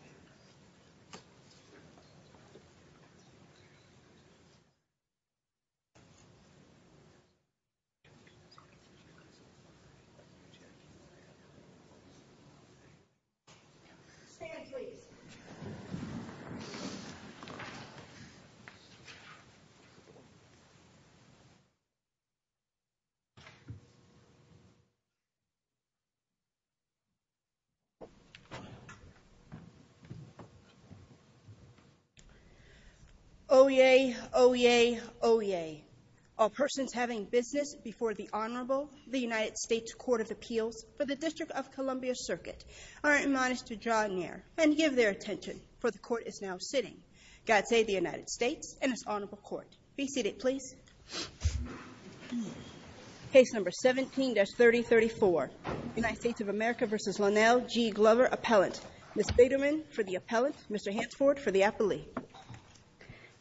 . Yeah. Stand, please. Oye, oye, oye, all persons having business before the Honorable, the United States Court of Appeals for the District of Columbia Circuit are admonished to draw near and give their attention, for the court is now sitting. God save the United States and its Honorable Court. Be seated, please. Case number 17-3034, United States of America v. Lonell G. Glover, appellant. Ms. Biederman for the appellant, Mr. Hansford for the appellee.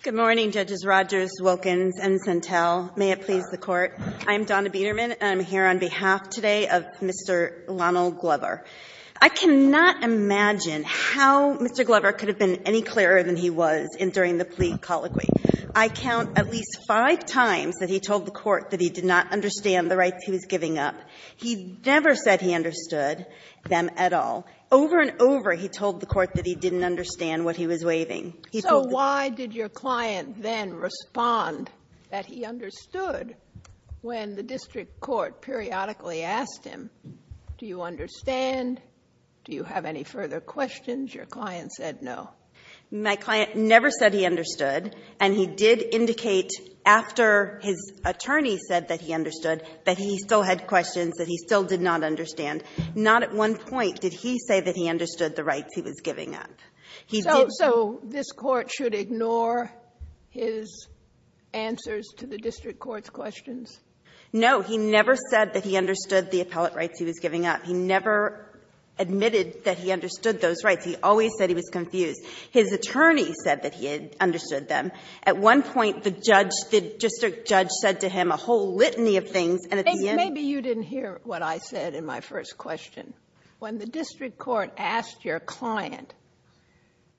Good morning, Judges Rodgers, Wilkins, and Sentel. May it please the Court, I'm Donna Biederman, and I'm here on behalf today of Mr. Lonell Glover. I cannot imagine how Mr. Glover could have been any clearer than he was during the plea colloquy. I count at least five times that he told the court that he did not understand the rights he was giving up. He never said he understood them at all. Over and over, he told the court that he didn't understand what he was waiving. He told the court that he didn't understand what he was waiving. So why did your client then respond that he understood when the district court periodically asked him, do you understand, do you have any further questions, your client said no. My client never said he understood, and he did indicate after his attorney said that he understood that he still had questions that he still did not understand. Not at one point did he say that he understood the rights he was giving up. He did not. So this Court should ignore his answers to the district court's questions? No. He never said that he understood the appellate rights he was giving up. He always said he was confused. His attorney said that he understood them. At one point, the judge, the district judge said to him a whole litany of things, and at the end. Maybe you didn't hear what I said in my first question. When the district court asked your client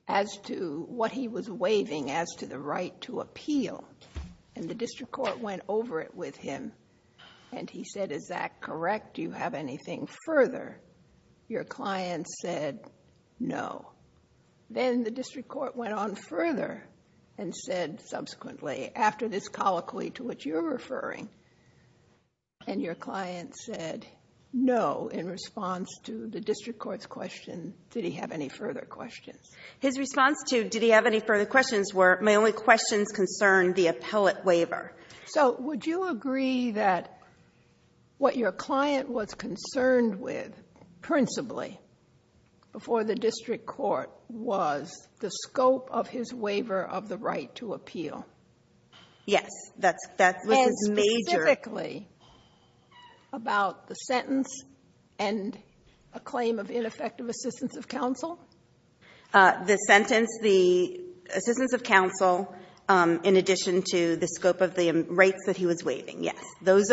as to what he was waiving as to the right to appeal, and the district court went over it with him, and he said, is that correct? Do you have anything further? Your client said no. Then the district court went on further and said subsequently, after this colloquy to which you're referring, and your client said no in response to the district court's question, did he have any further questions? His response to did he have any further questions were my only questions concerned the appellate waiver. So would you agree that what your client was concerned with principally before the district court was the scope of his waiver of the right to appeal? Yes, that's what his major. And specifically about the sentence and a claim of ineffective assistance of counsel? The sentence, the assistance of counsel in addition to the scope of the rights that he was waiving, yes. Those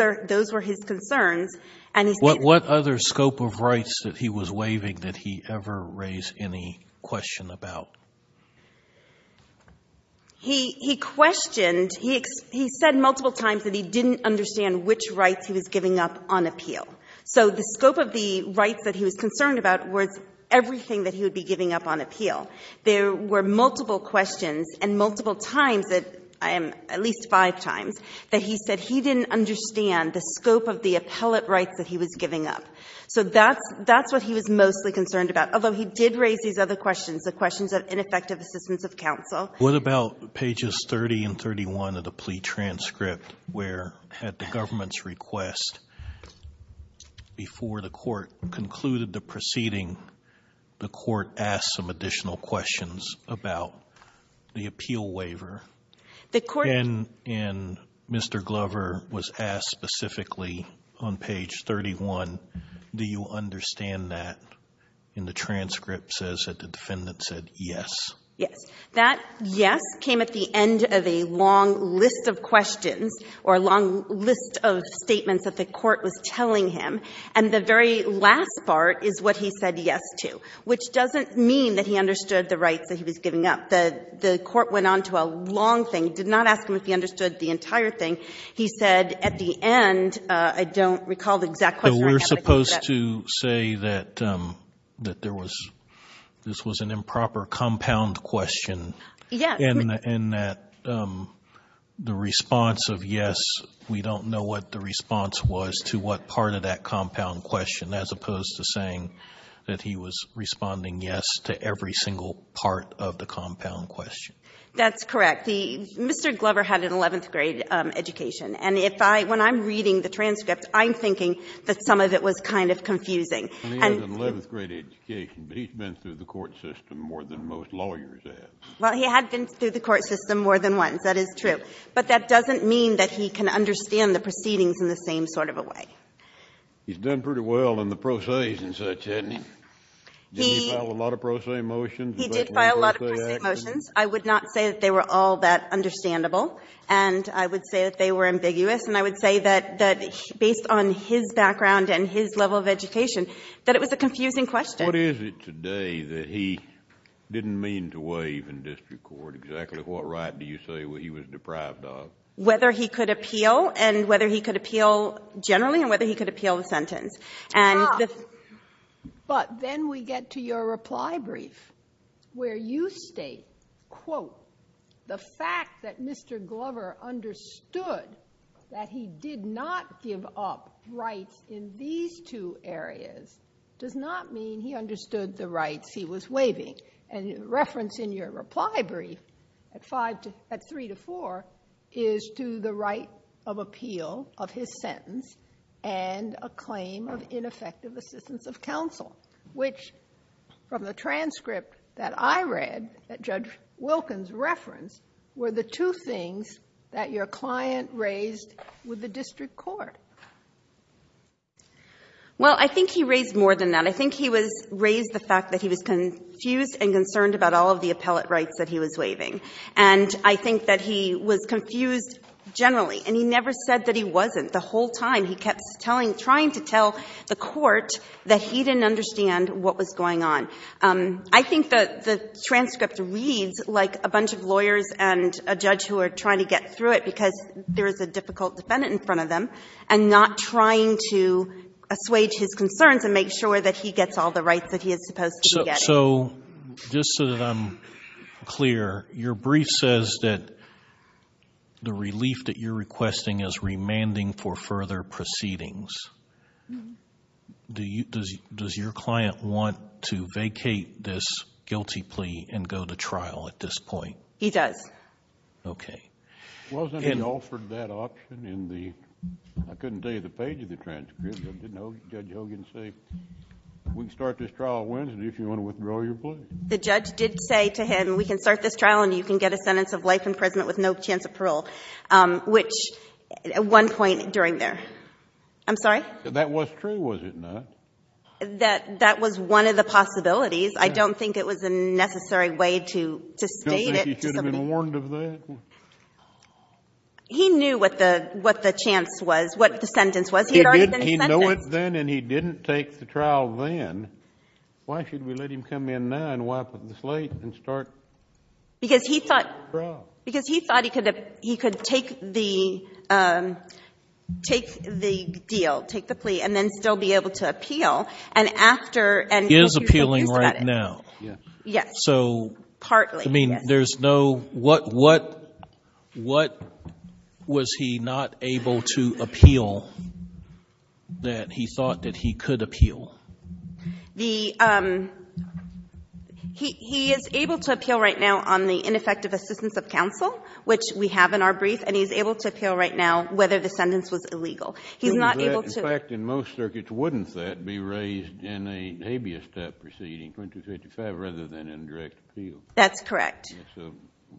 were his concerns, and he said. What other scope of rights that he was waiving did he ever raise any question about? He questioned, he said multiple times that he didn't understand which rights he was giving up on appeal. So the scope of the rights that he was concerned about was everything that he would be giving up on appeal. There were multiple questions and multiple times, at least five times, that he said he didn't understand the scope of the appellate rights that he was giving up. So that's what he was mostly concerned about. Although he did raise these other questions, the questions of ineffective assistance of counsel. What about pages 30 and 31 of the plea transcript where had the government's request before the court concluded the proceeding, the court asked some additional questions about the appeal waiver. The court. And Mr. Glover was asked specifically on page 31, do you understand that in the transcript says that the defendant said yes? Yes. That yes came at the end of a long list of questions or a long list of statements that the court was telling him, and the very last part is what he said yes to, which doesn't mean that he understood the rights that he was giving up. The court went on to a long thing, did not ask him if he understood the entire thing. He said at the end, I don't recall the exact question. But we're supposed to say that there was, this was an improper compound question. Yeah. In that the response of yes, we don't know what the response was to what part of that compound question, as opposed to saying that he was responding yes to every single part of the compound question. That's correct. The, Mr. Glover had an 11th grade education. And if I, when I'm reading the transcript, I'm thinking that some of it was kind of confusing. And he had an 11th grade education, but he's been through the court system more than most lawyers have. Well, he had been through the court system more than once. That is true. But that doesn't mean that he can understand the proceedings in the same sort of a way. He's done pretty well in the pro se's and such, hasn't he? Did he file a lot of pro se motions? He did file a lot of pro se motions. I would not say that they were all that understandable. And I would say that they were ambiguous. And I would say that, based on his background and his level of education, that it was a confusing question. What is it today that he didn't mean to waive in district court, exactly what right do you say he was deprived of? Whether he could appeal, and whether he could appeal generally, and whether he could appeal the sentence. And the- Stop. But then we get to your reply brief, where you state, quote, the fact that Mr. Glover understood that he did not give up rights in these two areas does not mean he understood the rights he was waiving. And the reference in your reply brief, at three to four, is to the right of appeal of his sentence and a claim of ineffective assistance of counsel, which, from the transcript that I read that Judge Wilkins referenced, were the two things that your client raised with the district court. Well, I think he raised more than that. I think he raised the fact that he was confused and concerned about all of the appellate rights that he was waiving. And I think that he was confused generally. And he never said that he wasn't. The whole time, he kept trying to tell the court that he didn't understand what was going on. I think that the transcript reads like a bunch of lawyers and a judge who are trying to get through it, because there is a difficult defendant in front of them, and not trying to assuage his concerns and make sure that he gets all the rights that he is supposed to be getting. So, just so that I'm clear, your brief says that the relief that you're requesting is remanding for further proceedings. Does your client want to vacate this guilty plea and go to trial at this point? He does. Okay. Wasn't he offered that option in the, I couldn't tell you the page of the transcript, but did Judge Hogan say, we can start this trial Wednesday if you want to withdraw your plea? The judge did say to him, we can start this trial and you can get a sentence of life imprisonment with no chance of parole, which at one point during there. I'm sorry? That was true, was it not? That was one of the possibilities. I don't think it was a necessary way to state it to somebody. You don't think he should have been warned of that? He knew what the chance was, what the sentence was. He knew it then and he didn't take the trial then. Why should we let him come in now and wipe up the slate and start the trial? Because he thought he could take the deal, take the plea, and then still be able to appeal. He is appealing right now. Yes. Partly. What was he not able to appeal that he thought that he could appeal? He is able to appeal right now on the ineffective assistance of counsel, which we have in our brief, and he's able to appeal right now whether the sentence was illegal. In fact, in most circuits, wouldn't that be raised in a habeas step proceeding, 2255, rather than in direct appeal? That's correct.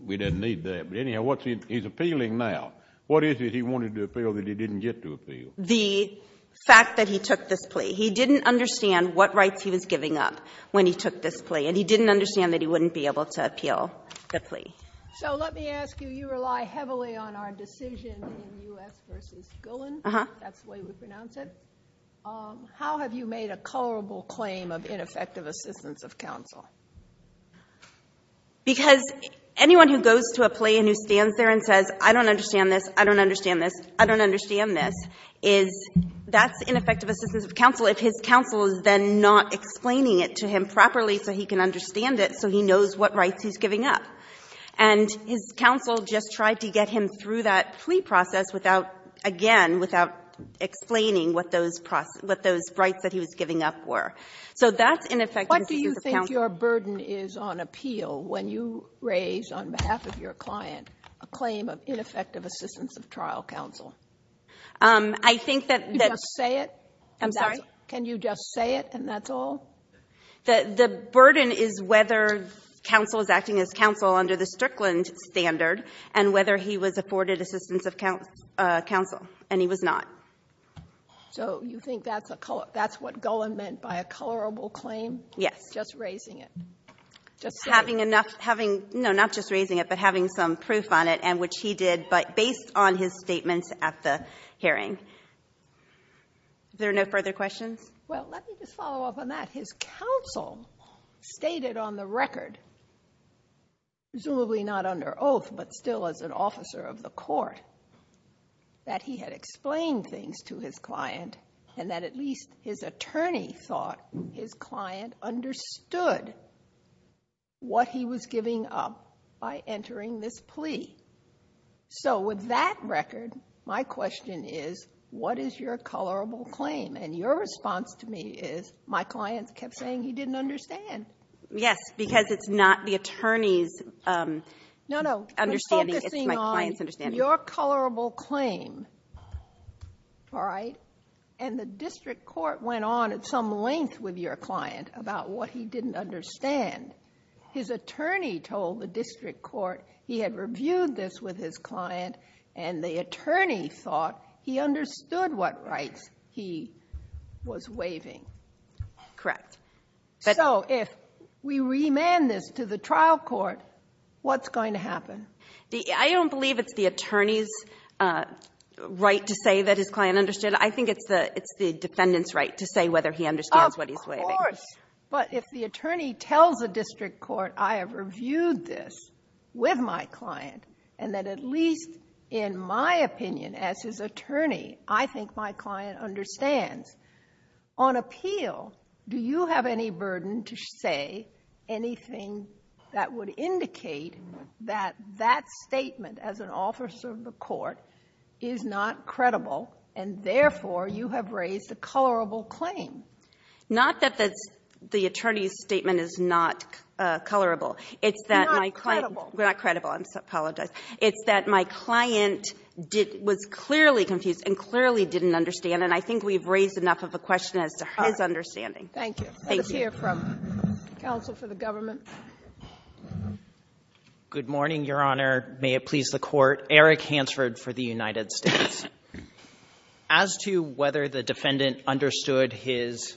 We didn't need that. But anyhow, he's appealing now. What is it he wanted to appeal that he didn't get to appeal? The fact that he took this plea. He didn't understand what rights he was giving up when he took this plea, and he didn't understand that he wouldn't be able to appeal the plea. So let me ask you, you rely heavily on our decision in U.S. v. Golan. That's the way we pronounce it. How have you made a colorable claim of ineffective assistance of counsel? Because anyone who goes to a plea and who stands there and says, I don't understand this, I don't understand this, I don't understand this, is that's ineffective assistance of counsel if his counsel is then not explaining it to him properly so he can understand it, so he knows what rights he's giving up. And his counsel just tried to get him through that plea process without, again, without explaining what those rights that he was giving up were. So that's ineffective assistance of counsel. If your burden is on appeal when you raise on behalf of your client a claim of ineffective assistance of trial counsel, can you just say it and that's all? The burden is whether counsel is acting as counsel under the Strickland standard and whether he was afforded assistance of counsel, and he was not. So you think that's what Golan meant by a colorable claim? Yes. He was just raising it. No, not just raising it, but having some proof on it, and which he did, but based on his statements at the hearing. Are there no further questions? Well, let me just follow up on that. His counsel stated on the record, presumably not under oath, but still as an officer of the court, that he had explained things to his client and that at least his attorney thought his client understood what he was giving up by entering this plea. So with that record, my question is, what is your colorable claim? And your response to me is, my client kept saying he didn't understand. Yes, because it's not the attorney's understanding, it's my client's understanding. Your colorable claim, all right, and the district court went on at some length with your client about what he didn't understand. His attorney told the district court he had reviewed this with his client and the attorney thought he understood what rights he was waiving. Correct. So if we remand this to the trial court, what's going to happen? I don't believe it's the attorney's right to say that his client understood. I think it's the defendant's right to say whether he understands what he's waiving. Of course, but if the attorney tells the district court, I have reviewed this with my client and that at least in my opinion as his attorney, I think my client understands. On appeal, do you have any burden to say anything that would indicate that that statement as an officer of the court is not credible and therefore you have raised a colorable claim? Not that the attorney's statement is not colorable. It's not credible. Not credible, I apologize. It's that my client was clearly confused and clearly didn't understand and I think we've raised enough of a question as to his understanding. Thank you. Let's hear from counsel for the government. Good morning, Your Honor. May it please the Court. Eric Hansford for the United States. As to whether the defendant understood his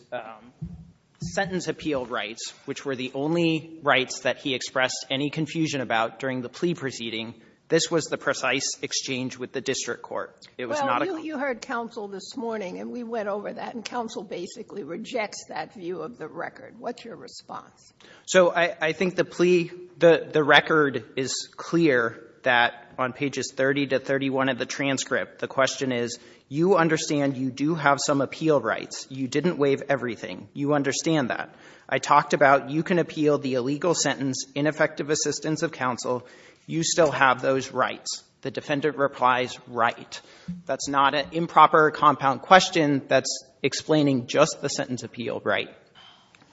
sentence appeal rights, which were the only rights that he expressed any confusion about during the plea proceeding, this was the precise exchange with the district court. It was not a claim. Well, you heard counsel this morning and we went over that and counsel basically rejects that view of the record. What's your response? So I think the plea, the record is clear that on pages 30 to 31 of the transcript the question is you understand you do have some appeal rights. You didn't waive everything. You understand that. I talked about you can appeal the illegal sentence, ineffective assistance of counsel. You still have those rights. The defendant replies, right. That's not an improper compound question that's explaining just the sentence appeal right.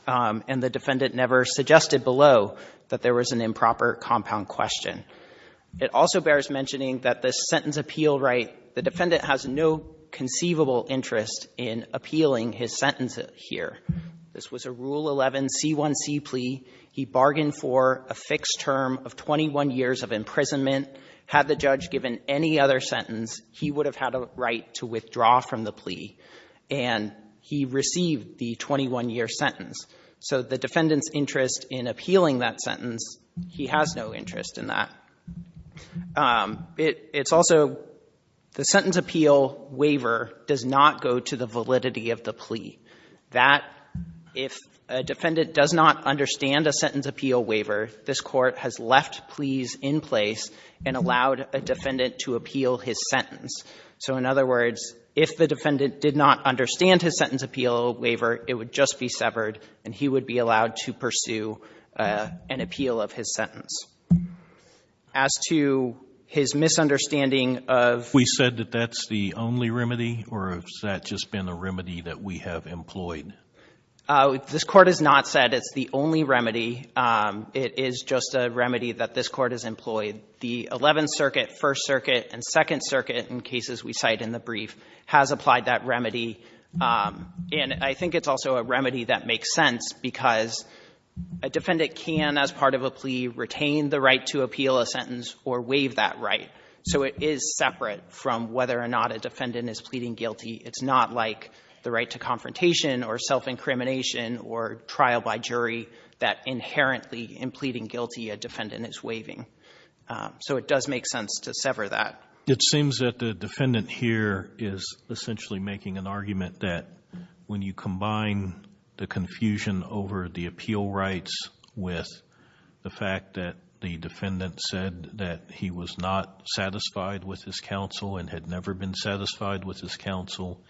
And the defendant never suggested below that there was an improper compound question. It also bears mentioning that the sentence appeal right, the defendant has no conceivable interest in appealing his sentence here. This was a Rule 11 C1c plea. He bargained for a fixed term of 21 years of imprisonment. Had the judge given any other sentence, he would have had a right to withdraw from the plea. And he received the 21-year sentence. So the defendant's interest in appealing that sentence, he has no interest in that. It's also the sentence appeal waiver does not go to the validity of the plea. That if a defendant does not understand a sentence appeal waiver, this Court has left pleas in place and allowed a defendant to appeal his sentence. So in other words, if the defendant did not understand his sentence appeal waiver, it would just be severed, and he would be allowed to pursue an appeal of his sentence. As to his misunderstanding of ---- We said that that's the only remedy, or has that just been a remedy that we have employed? This Court has not said it's the only remedy. It is just a remedy that this Court has employed. The 11th Circuit, 1st Circuit, and 2nd Circuit, in cases we cite in the brief, has applied that remedy. And I think it's also a remedy that makes sense because a defendant can, as part of a plea, retain the right to appeal a sentence or waive that right. So it is separate from whether or not a defendant is pleading guilty. It's not like the right to confrontation or self-incrimination or trial by jury that inherently in pleading guilty a defendant is waiving. So it does make sense to sever that. It seems that the defendant here is essentially making an argument that when you combine the confusion over the appeal rights with the fact that the defendant said that he was not satisfied with his counsel and had never been satisfied with his counsel,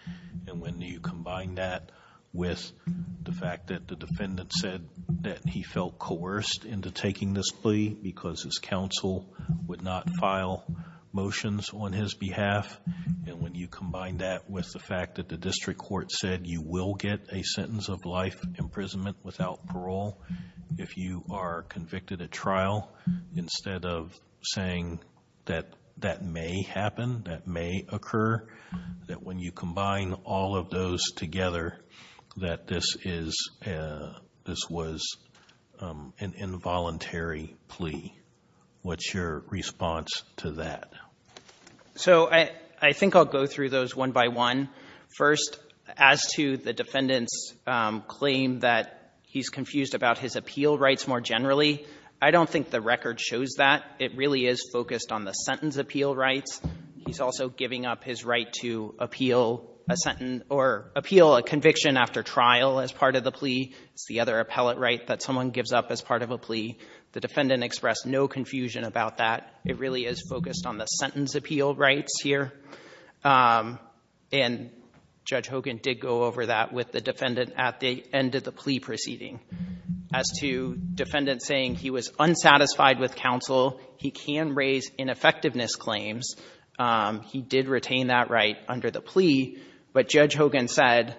and when you combine that with the fact that the counsel would not file motions on his behalf, and when you combine that with the fact that the district court said you will get a sentence of life imprisonment without parole if you are convicted at trial, instead of saying that that may happen, that may occur, that when you combine all of those together, that this is, this was an involuntary plea. What's your response to that? So I think I'll go through those one by one. First, as to the defendant's claim that he's confused about his appeal rights more generally, I don't think the record shows that. It really is focused on the sentence appeal rights. He's also giving up his right to appeal a conviction after trial as part of the plea. It's the other appellate right that someone gives up as part of a plea. The defendant expressed no confusion about that. It really is focused on the sentence appeal rights here. And Judge Hogan did go over that with the defendant at the end of the plea proceeding. As to defendant saying he was unsatisfied with counsel, he can raise ineffectiveness claims. He did retain that right under the plea. But Judge Hogan said,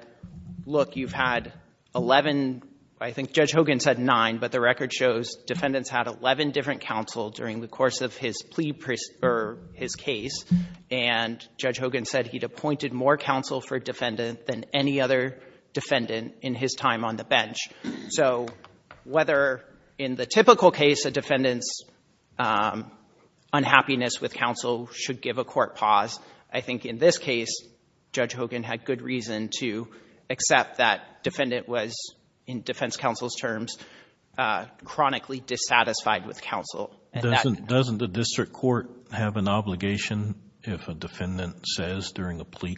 look, you've had 11, I think Judge Hogan said 9, but the record shows defendants had 11 different counsel during the course of his plea, or his case. And Judge Hogan said he'd appointed more counsel for defendant than any other defendant in his time on the bench. So whether in the typical case, a defendant's unhappiness with counsel should give a court pause, I think in this case, Judge Hogan had good reason to accept that defendant was, in defense counsel's terms, chronically dissatisfied with counsel. And that can happen. Doesn't the district court have an obligation if a defendant says during a plea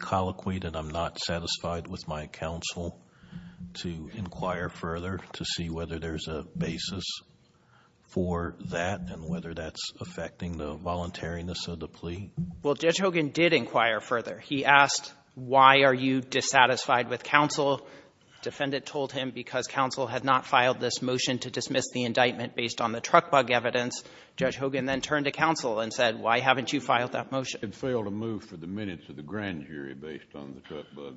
Well, Judge Hogan did inquire further. He asked, why are you dissatisfied with counsel? Defendant told him because counsel had not filed this motion to dismiss the indictment based on the truck bug evidence. Judge Hogan then turned to counsel and said, why haven't you filed that motion? It failed to move for the minutes of the grand jury based on the truck bug.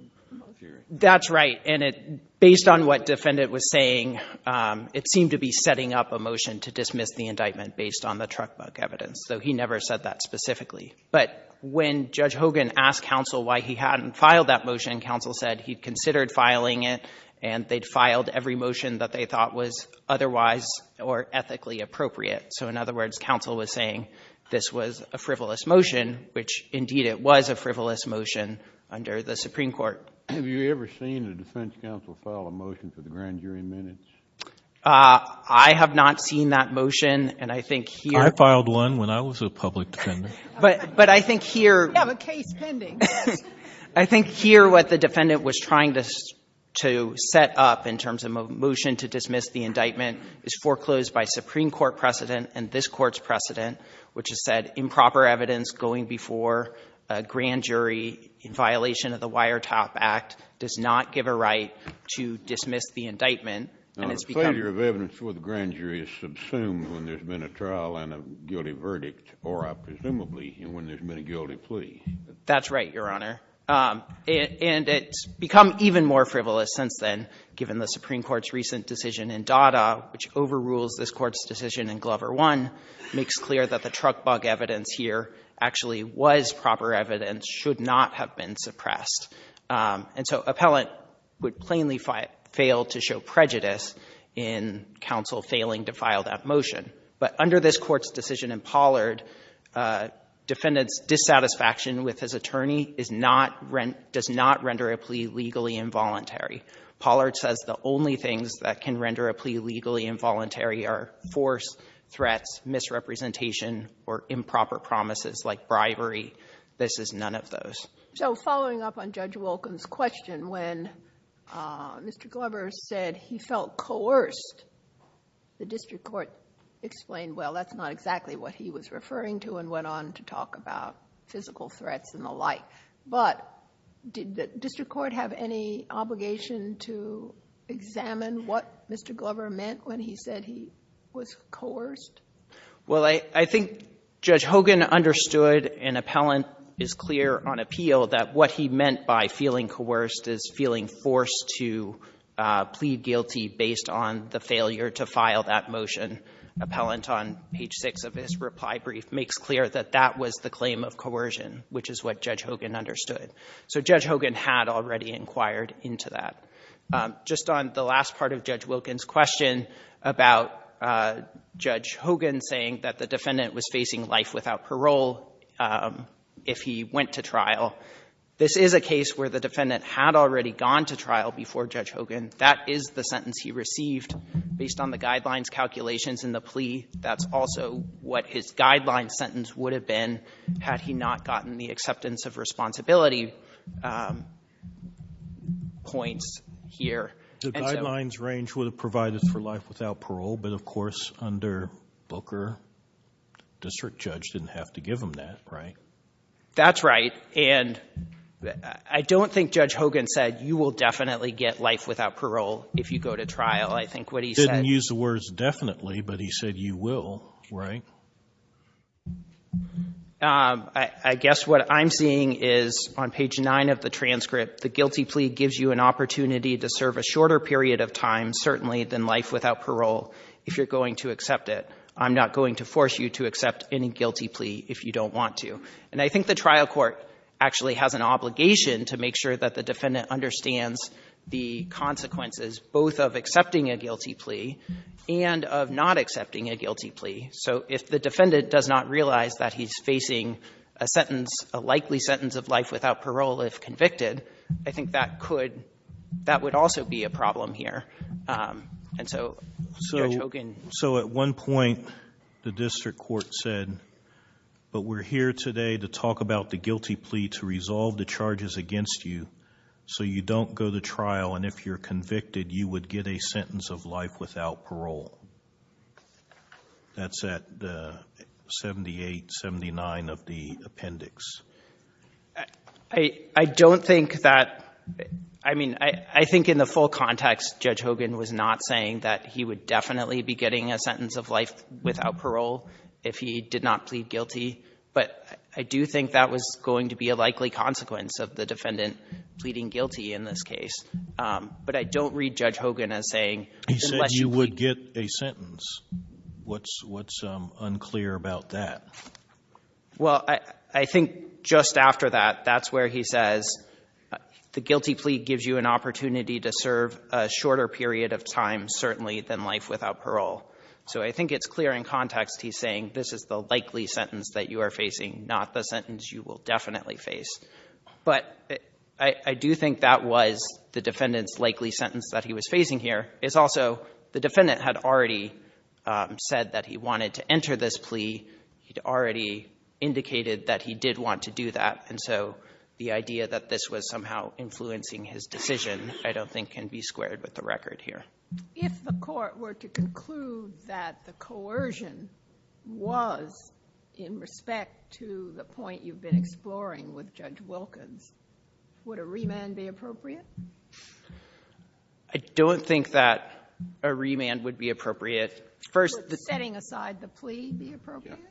That's right. And based on what defendant was saying, it seemed to be setting up a motion to dismiss the indictment based on the truck bug evidence. So he never said that specifically. But when Judge Hogan asked counsel why he hadn't filed that motion, counsel said he'd considered filing it, and they'd filed every motion that they thought was otherwise or ethically appropriate. So in other words, counsel was saying this was a frivolous motion, which indeed it was a frivolous motion under the Supreme Court. Have you ever seen a defense counsel file a motion for the grand jury minutes? I have not seen that motion. And I think here I filed one when I was a public defendant. But I think here We have a case pending. I think here what the defendant was trying to set up in terms of a motion to dismiss the indictment is foreclosed by Supreme Court precedent and this Court's precedent, which has said improper evidence going before a grand jury in violation of the Wire Top Act does not give a right to dismiss the indictment. And it's become A failure of evidence before the grand jury is subsumed when there's been a trial and a guilty verdict, or presumably when there's been a guilty plea. That's right, Your Honor. And it's become even more frivolous since then, given the Supreme Court's recent decision in Dada, which overrules this Court's decision in Glover 1, makes clear that the truck bug evidence here actually was proper evidence, should not have been suppressed. And so appellant would plainly fail to show prejudice in counsel failing to file that motion. But under this Court's decision in Pollard, defendant's dissatisfaction with his attorney does not render a plea legally involuntary. Pollard says the only things that can render a plea legally involuntary are force, threats, misrepresentation, or improper promises like bribery. This is none of those. So following up on Judge Wolken's question, when Mr. Glover said he felt coerced, the district court explained, well, that's not exactly what he was referring to and went on to talk about physical threats and the like. But did the district court have any obligation to examine what Mr. Glover meant when he said he was coerced? Well, I think Judge Hogan understood, and appellant is clear on appeal, that what he meant by feeling coerced is feeling forced to plead guilty based on the failure to file that motion. Appellant, on page 6 of his reply brief, makes clear that that was the claim of coercion, which is what Judge Hogan understood. So Judge Hogan had already inquired into that. Just on the last part of Judge Wolken's question about Judge Hogan saying that the defendant was facing life without parole if he went to trial, this is a case where the defendant had already gone to trial before Judge Hogan. That is the sentence he received. Based on the guidelines calculations in the plea, that's also what his guideline sentence would have been had he not gotten the acceptance of responsibility points here. The guidelines range would have provided for life without parole, but of course under Booker, district judge didn't have to give him that, right? That's right. And I don't think Judge Hogan said you will definitely get life without parole if you go to trial. I think what he said— Didn't use the words definitely, but he said you will, right? I guess what I'm seeing is on page 9 of the transcript, the guilty plea gives you an opportunity to serve a shorter period of time certainly than life without parole if you're going to accept it. I'm not going to force you to accept any guilty plea if you don't want to. And I think the trial court actually has an obligation to make sure that the defendant understands the consequences both of accepting a guilty plea and of not accepting a guilty plea. So if the defendant does not realize that he's facing a sentence, a likely sentence of life without parole if convicted, I think that could—that would also be a problem here. And so Judge Hogan— So at one point, the district court said, but we're here today to talk about the guilty plea to resolve the charges against you so you don't go to trial and if you're convicted, you would get a sentence of life without parole. That's at 78, 79 of the appendix. I don't think that—I mean, I think in the full context, Judge Hogan was not saying that he would definitely be getting a sentence of life without parole if he did not plead guilty, but I do think that was going to be a likely consequence of the defendant pleading guilty in this case. But I don't read Judge Hogan as saying— He said you would get a sentence. What's unclear about that? Well, I think just after that, that's where he says the guilty plea gives you an opportunity to serve a shorter period of time certainly than life without parole. So I think it's clear in context he's saying this is the likely sentence that you are facing, not the sentence you will definitely face. But I do think that was the defendant's likely sentence that he was facing here. It's also the defendant had already said that he wanted to enter this plea. He'd already indicated that he did want to do that, and so the idea that this was somehow influencing his decision I don't think can be squared with the record here. If the Court were to conclude that the coercion was in respect to the point you've been exploring with Judge Wilkins, would a remand be appropriate? I don't think that a remand would be appropriate. First— Would setting aside the plea be appropriate? Yeah.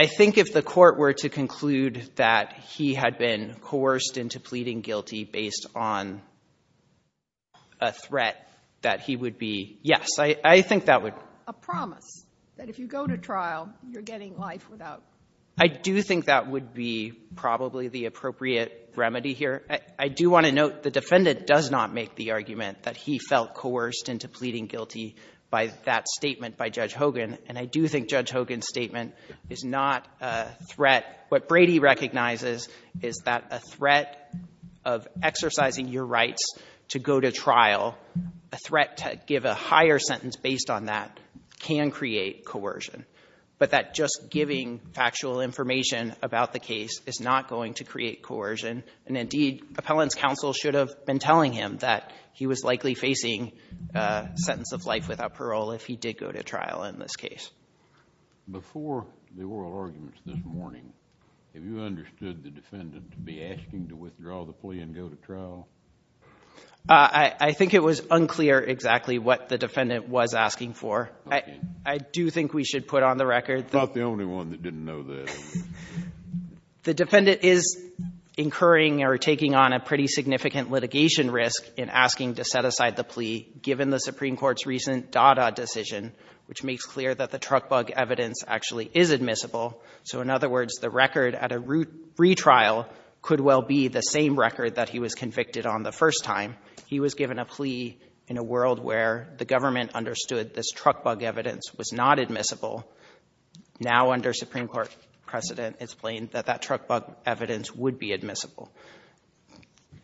I think if the Court were to conclude that he had been coerced into pleading guilty based on a threat, that he would be, yes, I think that would— A promise that if you go to trial, you're getting life without parole. I do think that would be probably the appropriate remedy here. I do want to note the defendant does not make the argument that he felt coerced into pleading guilty by that statement by Judge Hogan. And I do think Judge Hogan's statement is not a threat. What Brady recognizes is that a threat of exercising your rights to go to trial, a threat to give a higher sentence based on that, can create coercion. But that just giving factual information about the case is not going to create coercion. And indeed, appellant's counsel should have been telling him that he was likely facing a sentence of life without parole if he did go to trial in this case. Before the oral arguments this morning, have you understood the defendant to be asking to withdraw the plea and go to trial? I think it was unclear exactly what the defendant was asking for. Okay. I do think we should put on the record that the defendant is incurring or taking on a pretty significant litigation risk in asking to set aside the plea given the Supreme Court's recent Dada decision, which makes clear that the truck bug evidence actually is admissible. So in other words, the record at a retrial could well be the same record that he was convicted on the first time. He was given a plea in a world where the government understood this truck bug evidence was not admissible. Now under Supreme Court precedent, it's plain that that truck bug evidence would be admissible.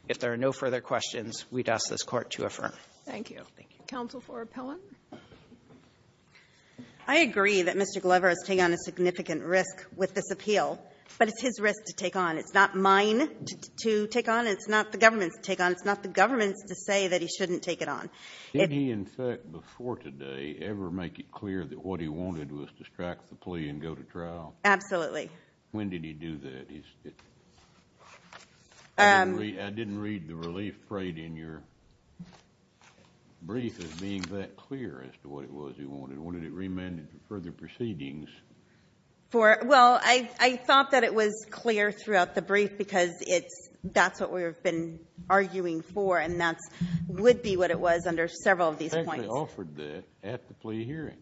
If there are no further questions, we'd ask this Court to affirm. Thank you. Thank you. Counsel for appellant. I agree that Mr. Glover is taking on a significant risk with this appeal, but it's his risk to take on. It's not mine to take on. It's not the government's to take on. It's not the government's to say that he shouldn't take it on. Did he, in fact, before today ever make it clear that what he wanted was to strike the plea and go to trial? Absolutely. When did he do that? I didn't read the relief freight in your brief as being that clear as to what it was he wanted. When did it remand him to further proceedings? Well, I thought that it was clear throughout the brief because that's what we've been arguing for, and that would be what it was under several of these points. He actually offered that at the plea hearing.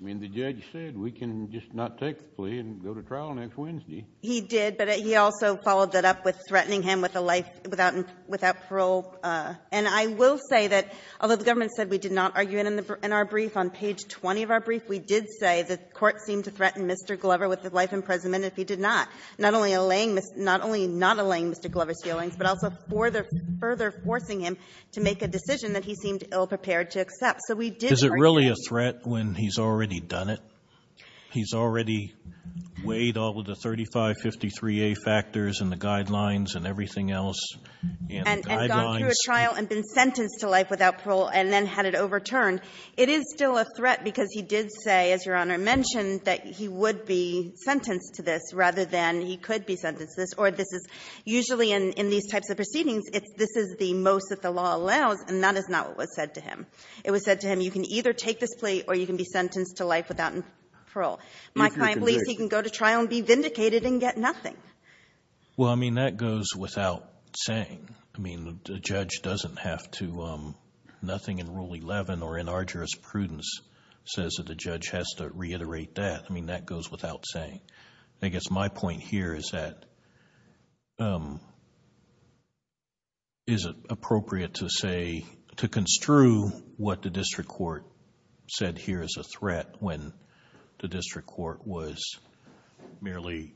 I mean, the judge said we can just not take the plea and go to trial next Wednesday. He did, but he also followed that up with threatening him with a life without parole. And I will say that although the government said we did not argue it in our brief, on page 20 of our brief, we did say the Court seemed to threaten Mr. Glover with a life imprisonment if he did not, not only not allaying Mr. Glover's feelings but also further forcing him to make a decision that he seemed ill-prepared to accept. So we did argue that. Is it really a threat when he's already done it? He's already weighed all of the 3553A factors and the guidelines and everything else and the guidelines. And gone through a trial and been sentenced to life without parole and then had it overturned. It is still a threat because he did say, as Your Honor mentioned, that he would be sentenced to this rather than he could be sentenced to this. Or this is usually in these types of proceedings, this is the most that the law allows and that is not what was said to him. It was said to him, you can either take this plea or you can be sentenced to life without parole. My client believes he can go to trial and be vindicated and get nothing. Well, I mean, that goes without saying. I mean, the judge doesn't have to do nothing in Rule 11 or in arduous prudence says that the judge has to reiterate that. I mean, that goes without saying. I guess my point here is that, is it appropriate to say, to construe what the district court said here is a threat when the district court was merely...